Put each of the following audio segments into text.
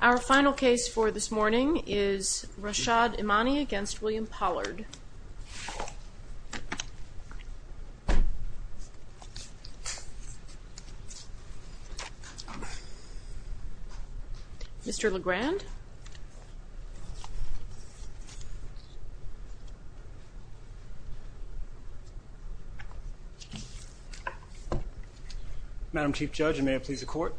Our final case for this morning is Rashaad Imani v. William Pollard. Mr. Legrand. Madam Chief Judge, and may it please the court.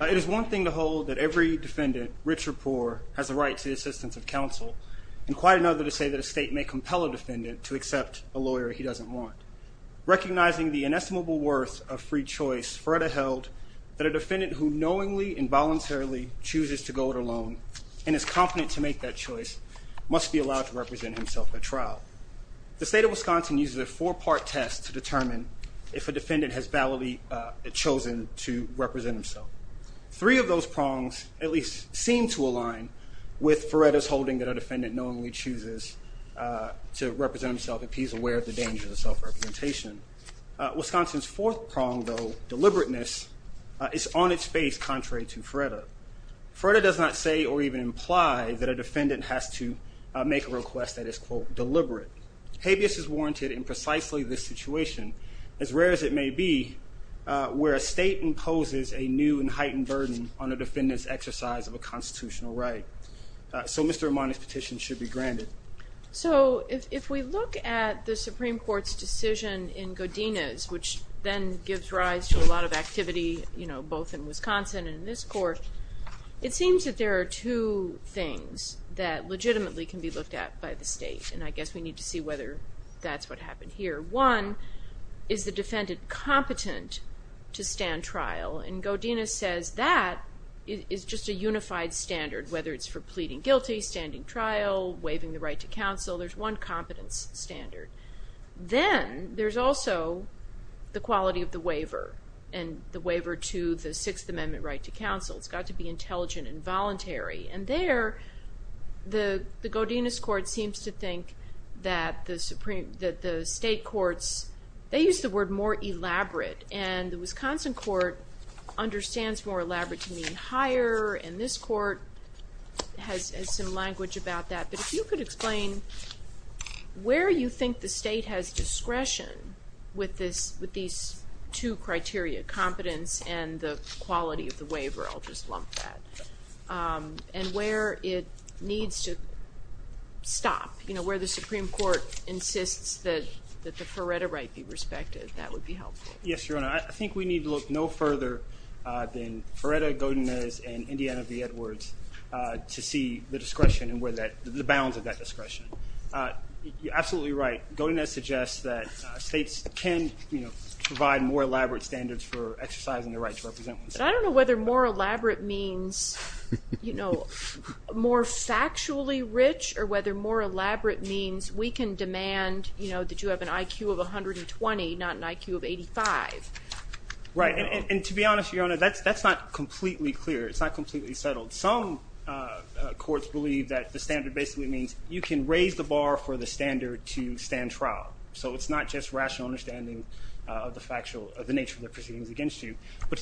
It is one thing to hold that every defendant, rich or poor, has a right to the assistance of counsel, and quite another to say that a state may compel a defendant to accept a lawyer he doesn't want. Recognizing the inestimable worth of free choice, Feretta held that a defendant who knowingly and voluntarily chooses to go it alone and is confident to make that choice must be allowed to represent himself at trial. The state of Wisconsin uses a four-part test to determine if a defendant has validly chosen to represent himself. Three of those prongs at least seem to align with Feretta's holding that a defendant knowingly chooses to represent himself if he's aware of the danger of self-representation. Wisconsin's fourth prong, though, deliberateness, is on its face contrary to Feretta. Feretta does not say or even imply that a defendant has to make a request that is, quote, deliberate. Habeas is warranted in precisely this situation, as rare as it may be, where a state imposes a new and heightened burden on a defendant's exercise of a constitutional right. So Mr. Armani's petition should be granted. So if we look at the Supreme Court's decision in Godinez, which then gives rise to a lot of activity, you know, both in Wisconsin and in this court, it seems that there are two things that legitimately can be looked at by the state, and I guess we need to see whether that's what happened here. One, is the defendant competent to stand trial? And Godinez says that is just a unified standard, whether it's for pleading guilty, standing trial, waiving the right to counsel, there's one competence standard. Then there's also the quality of the waiver and the waiver to the Sixth Amendment right to counsel. It's got to be intelligent and voluntary. And there, the Godinez court seems to think that the state courts, they use the word more elaborate, and the Wisconsin court understands more elaborate to mean higher, and this court has some language about that. But if you could explain where you think the state has discretion with these two criteria, competence and the quality of the waiver, I'll just lump that. And where it needs to stop, you know, where the Supreme Court insists that the Ferretta right be respected, that would be helpful. Yes, Your Honor, I think we need to look no further than Ferretta, Godinez, and Indiana v. Edwards to see the discretion and the bounds of that discretion. You're absolutely right. Godinez suggests that states can provide more elaborate standards for exercising the right to represent themselves. I don't know whether more elaborate means, you know, more factually rich or whether more elaborate means we can demand, you know, that you have an IQ of 120, not an IQ of 85. Right, and to be honest, Your Honor, that's not completely clear. It's not completely settled. Some courts believe that the standard basically means you can raise the bar for the standard to stand trial. So it's not just rational understanding of the factual, of the nature of the proceedings against you.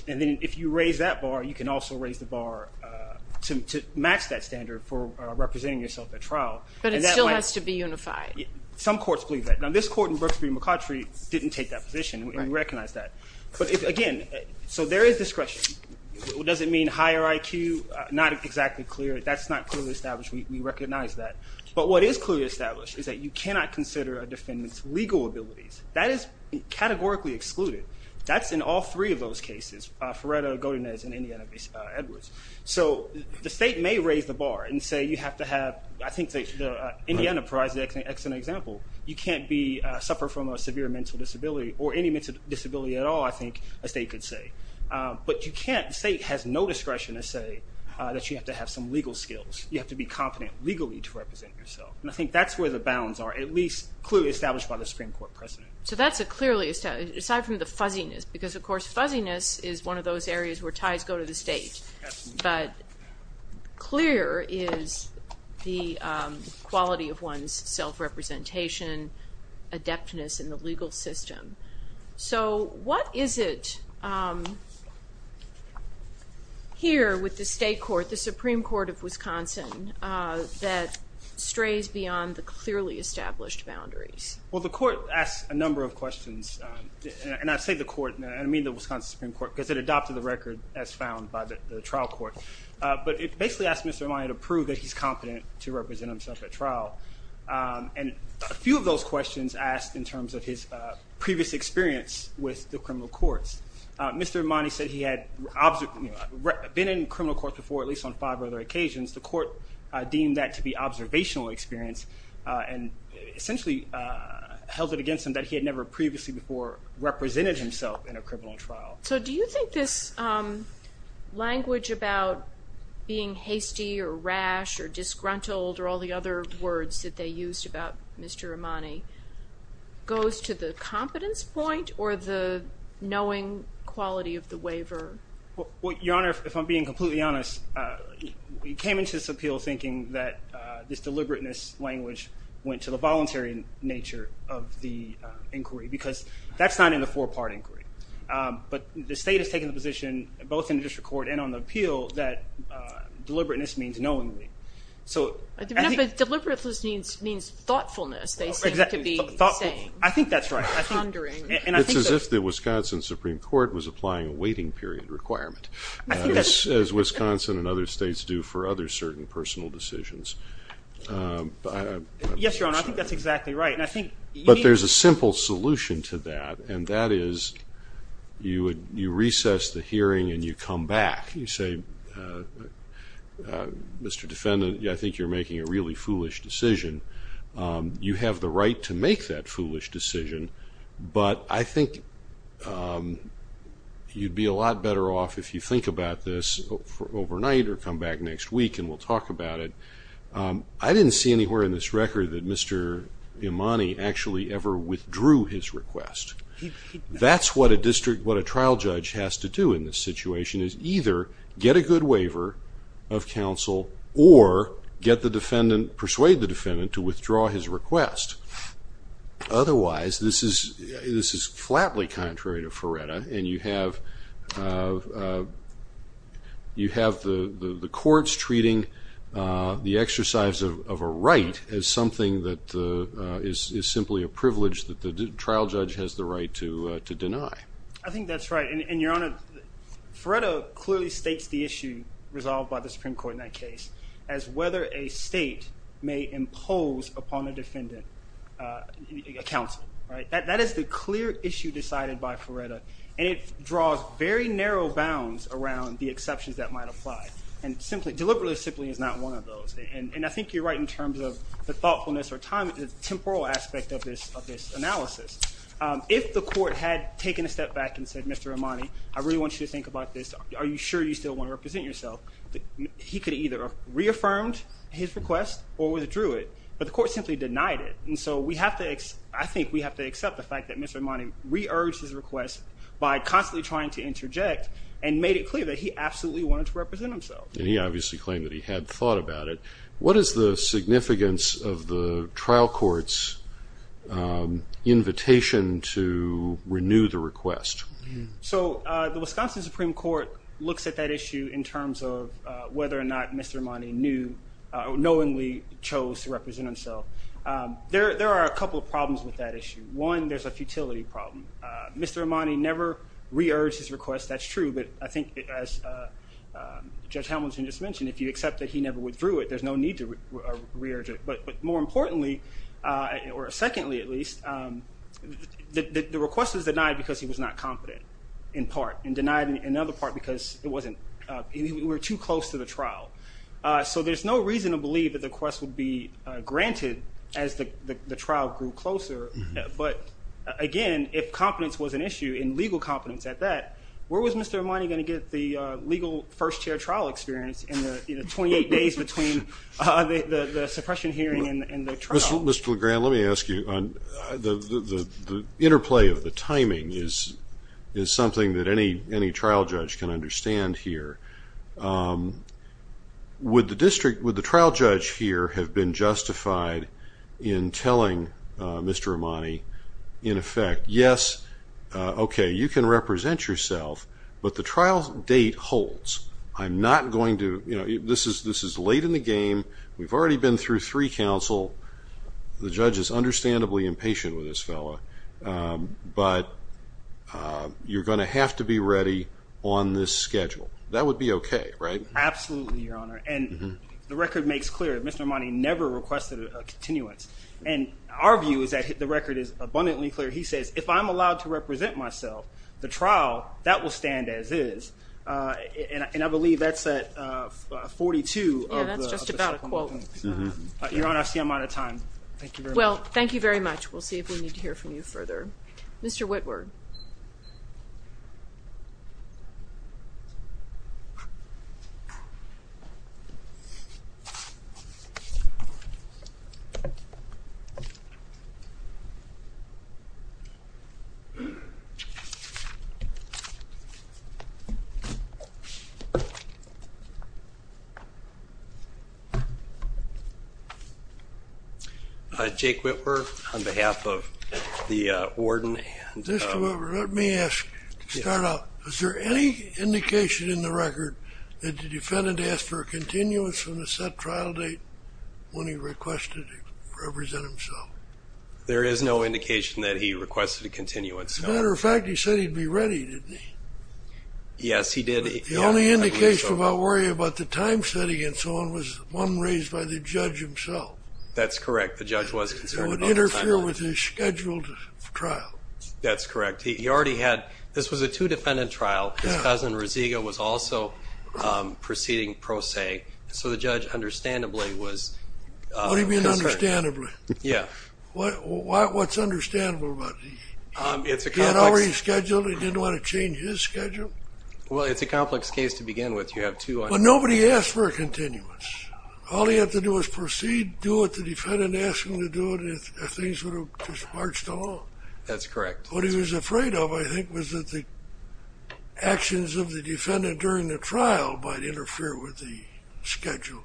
And then if you raise that bar, you can also raise the bar to match that standard for representing yourself at trial. But it still has to be unified. Some courts believe that. Now, this court in Brooks v. McCautry didn't take that position, and we recognize that. But again, so there is discretion. Does it mean higher IQ? Not exactly clear. That's not clearly established. We recognize that. But what is clearly established is that you cannot consider a defendant's legal abilities. That is categorically excluded. That's in all three of those cases, Ferreira, Godinez, and Indiana v. Edwards. So the state may raise the bar and say you have to have, I think Indiana provides an excellent example, you can't suffer from a severe mental disability or any mental disability at all, I think a state could say. But you can't, the state has no discretion to say that you have to have some legal skills. You have to be competent legally to represent yourself. And I think that's where the bounds are, at least clearly established by the Supreme Court precedent. So that's a clearly established, aside from the fuzziness, because, of course, fuzziness is one of those areas where ties go to the state. But clear is the quality of one's self-representation, adeptness in the legal system. So what is it here with the state court, the Supreme Court of Wisconsin, that strays beyond the clearly established boundaries? Well, the court asked a number of questions, and I say the court, I mean the Wisconsin Supreme Court, because it adopted the record as found by the trial court. But it basically asked Mr. Armani to prove that he's competent to represent himself at trial. And a few of those questions asked in terms of his previous experience with the criminal courts. Mr. Armani said he had been in criminal court before, at least on five other occasions. The court deemed that to be observational experience and essentially held it against him that he had never previously before represented himself in a criminal trial. So do you think this language about being hasty or rash or disgruntled or all the other words that they used about Mr. Armani goes to the competence point or the knowing quality of the waiver? Well, Your Honor, if I'm being completely honest, we came into this appeal thinking that this deliberateness language went to the voluntary nature of the inquiry, because that's not in the four-part inquiry. But the state has taken the position, both in the district court and on the appeal, that deliberateness means knowingly. But deliberateness means thoughtfulness, they seem to be saying. I think that's right. It's as if the Wisconsin Supreme Court was applying a waiting period requirement, as Wisconsin and other states do for other certain personal decisions. Yes, Your Honor, I think that's exactly right. But there's a simple solution to that, and that is you recess the hearing and you come back. You say, Mr. Defendant, I think you're making a really foolish decision. You have the right to make that foolish decision, but I think you'd be a lot better off if you think about this overnight or come back next week and we'll talk about it. I didn't see anywhere in this record that Mr. Armani actually ever withdrew his request. That's what a trial judge has to do in this situation, is either get a good waiver of counsel or get the defendant, persuade the defendant to withdraw his request. Otherwise, this is flatly contrary to Feretta, and you have the courts treating the exercise of a right as something that is simply a privilege that the trial judge has the right to deny. I think that's right. And, Your Honor, Feretta clearly states the issue resolved by the Supreme Court in that case as whether a state may impose upon a defendant a counsel. That is the clear issue decided by Feretta, and it draws very narrow bounds around the exceptions that might apply, and deliberately simply is not one of those. And I think you're right in terms of the thoughtfulness or time, the temporal aspect of this analysis. If the court had taken a step back and said, Mr. Armani, I really want you to think about this. Are you sure you still want to represent yourself? He could have either reaffirmed his request or withdrew it, but the court simply denied it. And so I think we have to accept the fact that Mr. Armani re-urged his request by constantly trying to interject and made it clear that he absolutely wanted to represent himself. And he obviously claimed that he had thought about it. What is the significance of the trial court's invitation to renew the request? So the Wisconsin Supreme Court looks at that issue in terms of whether or not Mr. Armani knowingly chose to represent himself. There are a couple of problems with that issue. One, there's a futility problem. Mr. Armani never re-urged his request. That's true, but I think, as Judge Hamilton just mentioned, if you accept that he never withdrew it, there's no need to re-urge it. But more importantly, or secondly at least, the request was denied because he was not competent in part and denied in another part because it wasn't too close to the trial. So there's no reason to believe that the request would be granted as the trial grew closer. But, again, if competence was an issue and legal competence at that, where was Mr. Armani going to get the legal first-year trial experience in the 28 days between the suppression hearing and the trial? Mr. LeGrand, let me ask you. The interplay of the timing is something that any trial judge can understand here. Would the trial judge here have been justified in telling Mr. Armani, in effect, yes, okay, you can represent yourself, but the trial date holds. I'm not going to, you know, this is late in the game. We've already been through three counsel. The judge is understandably impatient with this fellow. But you're going to have to be ready on this schedule. That would be okay, right? Absolutely, Your Honor. And the record makes clear that Mr. Armani never requested a continuance. And our view is that the record is abundantly clear. He says, if I'm allowed to represent myself, the trial, that will stand as is. And I believe that's at 42. Yeah, that's just about a quote. Your Honor, I see I'm out of time. Thank you very much. Well, thank you very much. We'll see if we need to hear from you further. Mr. Whitworth. Mr. Whitworth. Let me ask, to start off, is there any indication in the record that the defendant asked for a continuance on the set trial date when he requested to represent himself? There is no indication that he requested a continuance. As a matter of fact, he said he'd be ready, didn't he? Yes, he did. The only indication about worrying about the time setting and so on was one raised by the judge himself. That's correct. The judge wasn't concerned about the time. It would interfere with his scheduled trial. That's correct. He already had – this was a two-defendant trial. His cousin, Rosega, was also proceeding pro se. So the judge, understandably, was concerned. What do you mean understandably? Yeah. What's understandable about it? He had already scheduled. He didn't want to change his schedule? Well, it's a complex case to begin with. You have two – But nobody asked for a continuance. All he had to do was proceed, do what the defendant asked him to do, and things would have just marched along. That's correct. What he was afraid of, I think, was that the actions of the defendant during the trial might interfere with the schedule.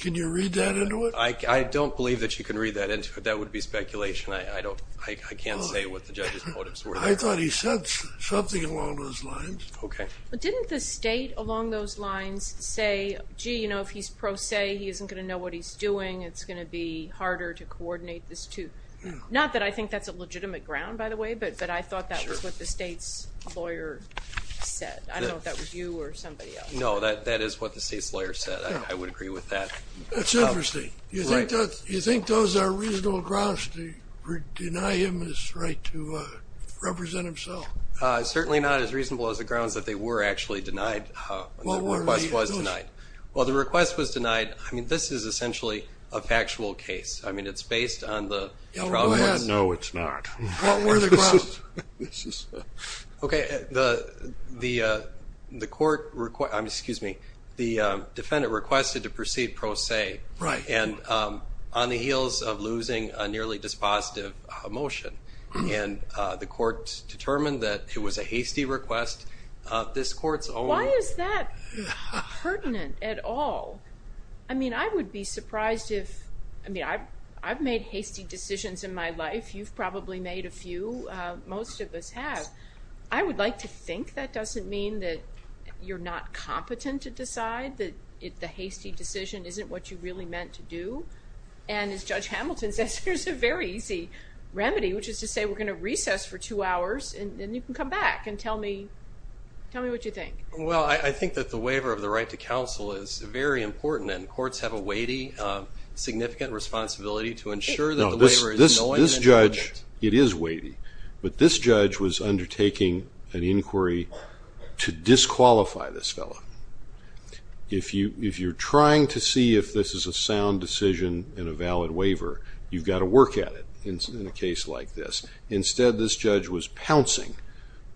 Can you read that into it? I don't believe that you can read that into it. That would be speculation. I can't say what the judge's motives were. I thought he said something along those lines. Okay. Didn't the state, along those lines, say, gee, you know, if he's pro se, he isn't going to know what he's doing. It's going to be harder to coordinate this too. Not that I think that's a legitimate ground, by the way, but I thought that was what the state's lawyer said. I don't know if that was you or somebody else. No, that is what the state's lawyer said. I would agree with that. That's interesting. You think those are reasonable grounds to deny him his right to represent himself? Certainly not as reasonable as the grounds that they were actually denied when the request was denied. Well, the request was denied. I mean, this is essentially a factual case. I mean, it's based on the trial. Go ahead. No, it's not. What were the grounds? Okay. The defendant requested to proceed pro se, and on the heels of losing a nearly dispositive motion, the court determined that it was a hasty request. Why is that pertinent at all? I mean, I would be surprised if, I mean, I've made hasty decisions in my life. You've probably made a few. Most of us have. I would like to think that doesn't mean that you're not competent to decide, that the hasty decision isn't what you really meant to do. And as Judge Hamilton says, there's a very easy remedy, which is to say we're going to recess for two hours, and then you can come back and tell me what you think. Well, I think that the waiver of the right to counsel is very important, and courts have a weighty, significant responsibility to ensure that the waiver is annoying. No, this judge, it is weighty, but this judge was undertaking an inquiry to disqualify this fellow. If you're trying to see if this is a sound decision and a valid waiver, you've got to work at it in a case like this. Instead, this judge was pouncing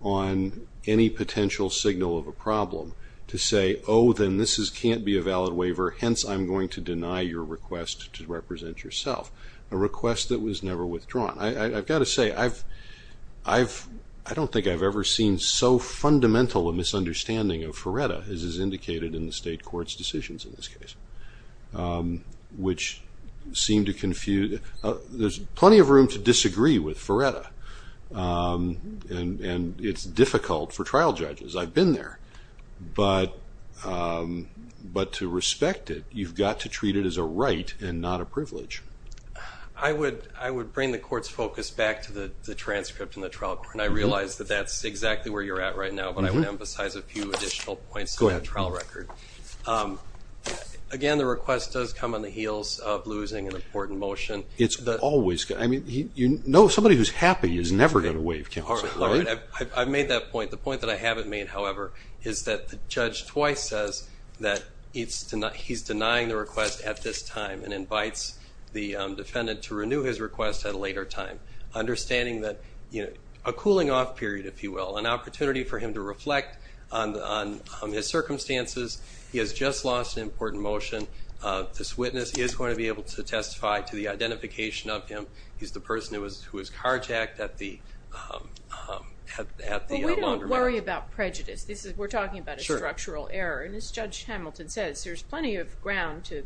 on any potential signal of a problem to say, oh, then this can't be a valid waiver, hence I'm going to deny your request to represent yourself, a request that was never withdrawn. I've got to say, I don't think I've ever seen so fundamental a misunderstanding of FRERETA as is indicated in the state court's decisions in this case, which seem to confuse. There's plenty of room to disagree with FRERETA, and it's difficult for trial judges. I've been there. But to respect it, you've got to treat it as a right and not a privilege. I would bring the court's focus back to the transcript in the trial court, and I realize that that's exactly where you're at right now, but I would emphasize a few additional points in that trial record. Again, the request does come on the heels of losing an important motion. It's always. I mean, you know somebody who's happy is never going to waive counsel, right? I've made that point. The point that I haven't made, however, is that the judge twice says that he's denying the request at this time and invites the defendant to renew his request at a later time, understanding that a cooling-off period, if you will, an opportunity for him to reflect on his circumstances. He has just lost an important motion. This witness is going to be able to testify to the identification of him. He's the person who was carjacked at the laundromat. But we don't worry about prejudice. We're talking about a structural error. And as Judge Hamilton says, there's plenty of ground to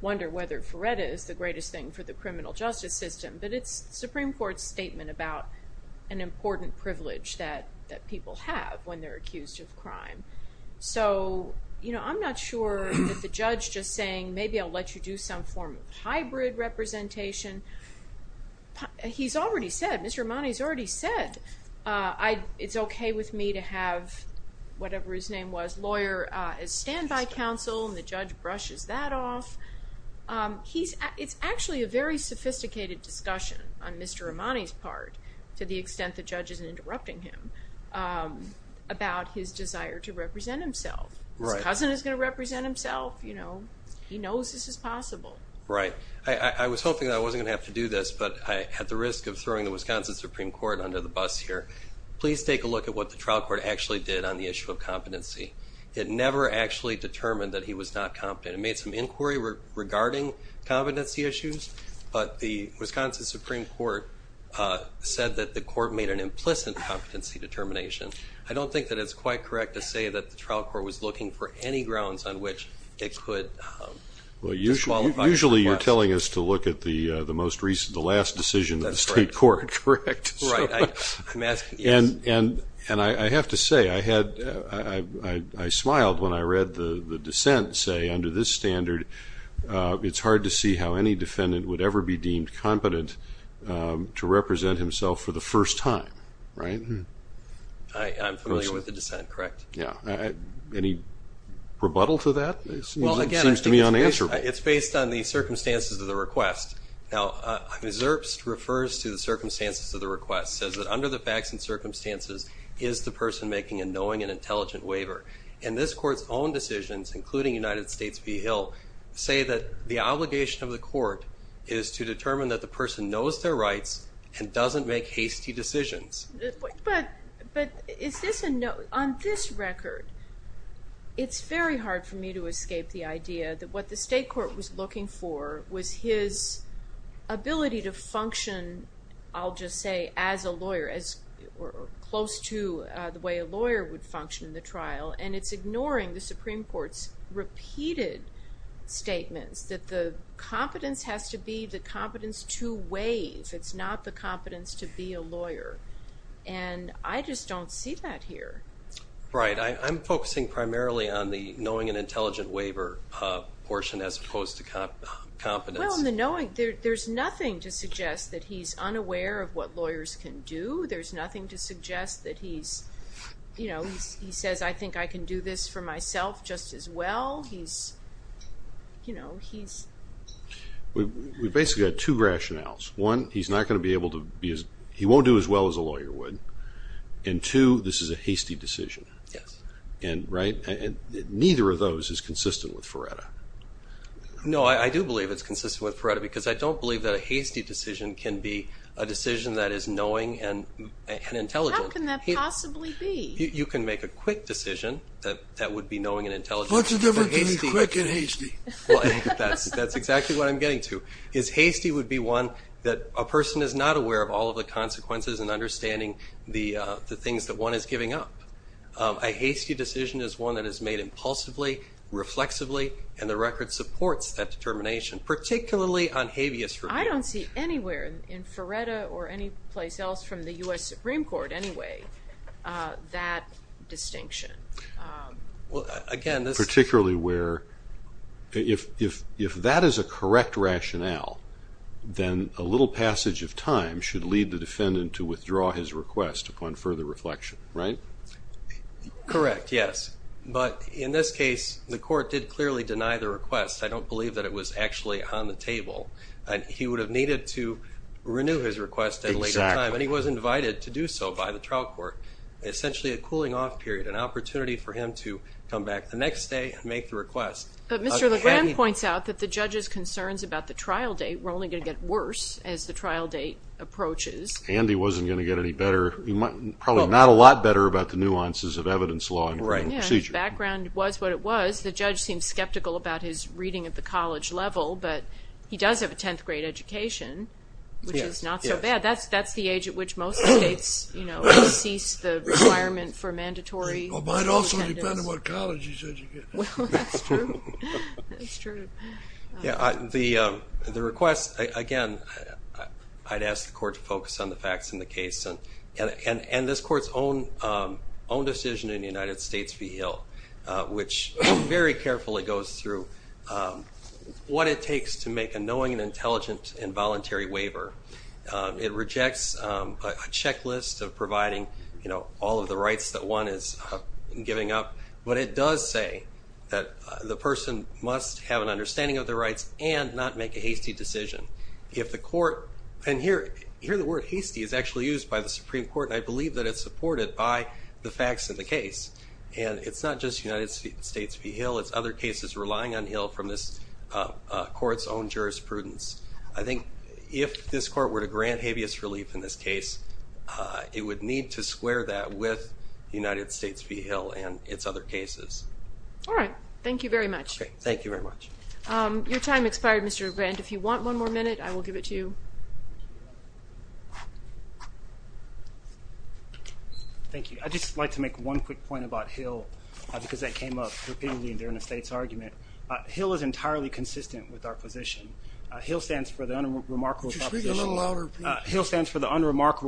wonder whether FRERETA is the greatest thing for the criminal justice system, but it's the Supreme Court's statement about an important privilege that people have when they're accused of crime. So, you know, I'm not sure that the judge just saying, maybe I'll let you do some form of hybrid representation. He's already said, Mr. Amani's already said, it's okay with me to have whatever his name was, lawyer, as standby counsel, and the judge brushes that off. It's actually a very sophisticated discussion on Mr. Amani's part, to the extent the judge isn't interrupting him, about his desire to represent himself. His cousin is going to represent himself. He knows this is possible. Right. I was hoping that I wasn't going to have to do this, but I had the risk of throwing the Wisconsin Supreme Court under the bus here. Please take a look at what the trial court actually did on the issue of competency. It never actually determined that he was not competent. It made some inquiry regarding competency issues, but the Wisconsin Supreme Court said that the court made an implicit competency determination. I don't think that it's quite correct to say that the trial court was looking for any grounds on which it could disqualify. Well, usually you're telling us to look at the most recent, the last decision of the state court, correct? Right. And I have to say, I smiled when I read the dissent say, under this standard, it's hard to see how any defendant would ever be deemed competent to represent himself for the first time. Right? I'm familiar with the dissent, correct. Yeah. Any rebuttal to that? It seems to me unanswerable. It's based on the circumstances of the request. Now, MSRPS refers to the circumstances of the request, says that under the facts and circumstances is the person making a knowing and intelligent waiver. And this court's own decisions, including United States v. Hill, say that the obligation of the court is to determine that the person knows their rights and doesn't make hasty decisions. But on this record, it's very hard for me to escape the idea that what the state court was looking for was his ability to function, I'll just say, as a lawyer or close to the way a lawyer would function in the trial. And it's ignoring the Supreme Court's repeated statements that the competence has to be the competence to waive. It's not the competence to be a lawyer. And I just don't see that here. Right. I'm focusing primarily on the knowing and intelligent waiver portion as opposed to competence. Well, in the knowing, there's nothing to suggest that he's unaware of what lawyers can do. There's nothing to suggest that he's, you know, he says I think I can do this for myself just as well. He's, you know, he's. We basically have two rationales. One, he's not going to be able to be as, he won't do as well as a lawyer would. And two, this is a hasty decision. Yes. And, right, and neither of those is consistent with Feretta. No, I do believe it's consistent with Feretta because I don't believe that a hasty decision can be a decision that is knowing and intelligent. How can that possibly be? You can make a quick decision that would be knowing and intelligent. What's the difference between quick and hasty? Well, that's exactly what I'm getting to. His hasty would be one that a person is not aware of all of the consequences and understanding the things that one is giving up. A hasty decision is one that is made impulsively, reflexively, and the record supports that determination, particularly on habeas. I don't see anywhere in Feretta or any place else from the U.S. Supreme Court anyway that distinction. Well, again, this is. Particularly where if that is a correct rationale, then a little passage of time should lead the defendant to withdraw his request upon further reflection, right? Correct, yes. But in this case, the court did clearly deny the request. I don't believe that it was actually on the table. He would have needed to renew his request at a later time. Exactly. And he was invited to do so by the trial court. Essentially a cooling off period, an opportunity for him to come back the next day and make the request. But Mr. LeGrand points out that the judge's concerns about the trial date were only going to get worse as the trial date approaches. And he wasn't going to get any better. Probably not a lot better about the nuances of evidence law. Background was what it was. The judge seemed skeptical about his reading at the college level, but he does have a 10th grade education, which is not so bad. That's the age at which most states, you know, cease the requirement for mandatory. Well, it might also depend on what college he's educated in. Well, that's true. That's true. The request, again, I'd ask the court to focus on the facts in the case. And this court's own decision in the United States v. Hill, which very carefully goes through what it takes to make a knowing and intelligent involuntary waiver. It rejects a checklist of providing, you know, all of the rights that one is giving up. But it does say that the person must have an understanding of their rights and not make a hasty decision. And here the word hasty is actually used by the Supreme Court, and I believe that it's supported by the facts in the case. And it's not just United States v. Hill. It's other cases relying on Hill from this court's own jurisprudence. I think if this court were to grant habeas relief in this case, it would need to square that with United States v. Hill and its other cases. All right. Thank you very much. Thank you very much. Your time expired, Mr. Grant. If you want one more minute, I will give it to you. Thank you. I'd just like to make one quick point about Hill because that came up repeatedly during the state's argument. Hill is entirely consistent with our position. Hill stands for the unremarkable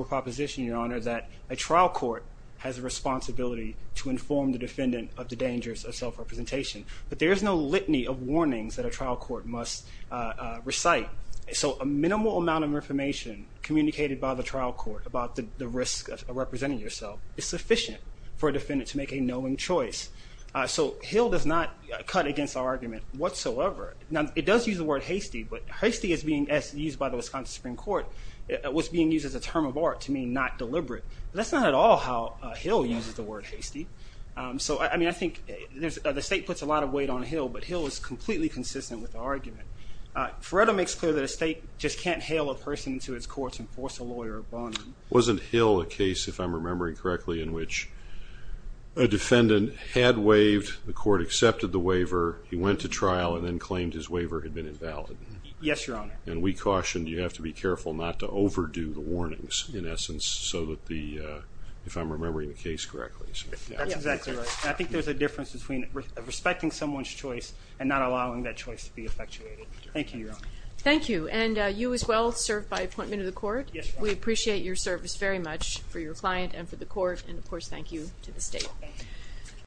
proposition, Your Honor, that a trial court has a responsibility to inform the defendant of the dangers of self-representation. But there is no litany of warnings that a trial court must recite. So a minimal amount of information communicated by the trial court about the risk of representing yourself is sufficient for a defendant to make a knowing choice. So Hill does not cut against our argument whatsoever. Now, it does use the word hasty, but hasty as being used by the Wisconsin Supreme Court was being used as a term of art to mean not deliberate. That's not at all how Hill uses the word hasty. So, I mean, I think the state puts a lot of weight on Hill, but Hill is completely consistent with the argument. Feretto makes clear that a state just can't hail a person to its courts and force a lawyer upon them. Wasn't Hill a case, if I'm remembering correctly, in which a defendant had waived, the court accepted the waiver, he went to trial, and then claimed his waiver had been invalid? Yes, Your Honor. And we cautioned you have to be careful not to overdo the warnings, in essence, so that the, if I'm remembering the case correctly. That's exactly right. And I think there's a difference between respecting someone's choice and not allowing that choice to be effectuated. Thank you, Your Honor. Thank you. And you as well served by appointment of the court. Yes, Your Honor. We appreciate your service very much for your client and for the court. And, of course, thank you to the state.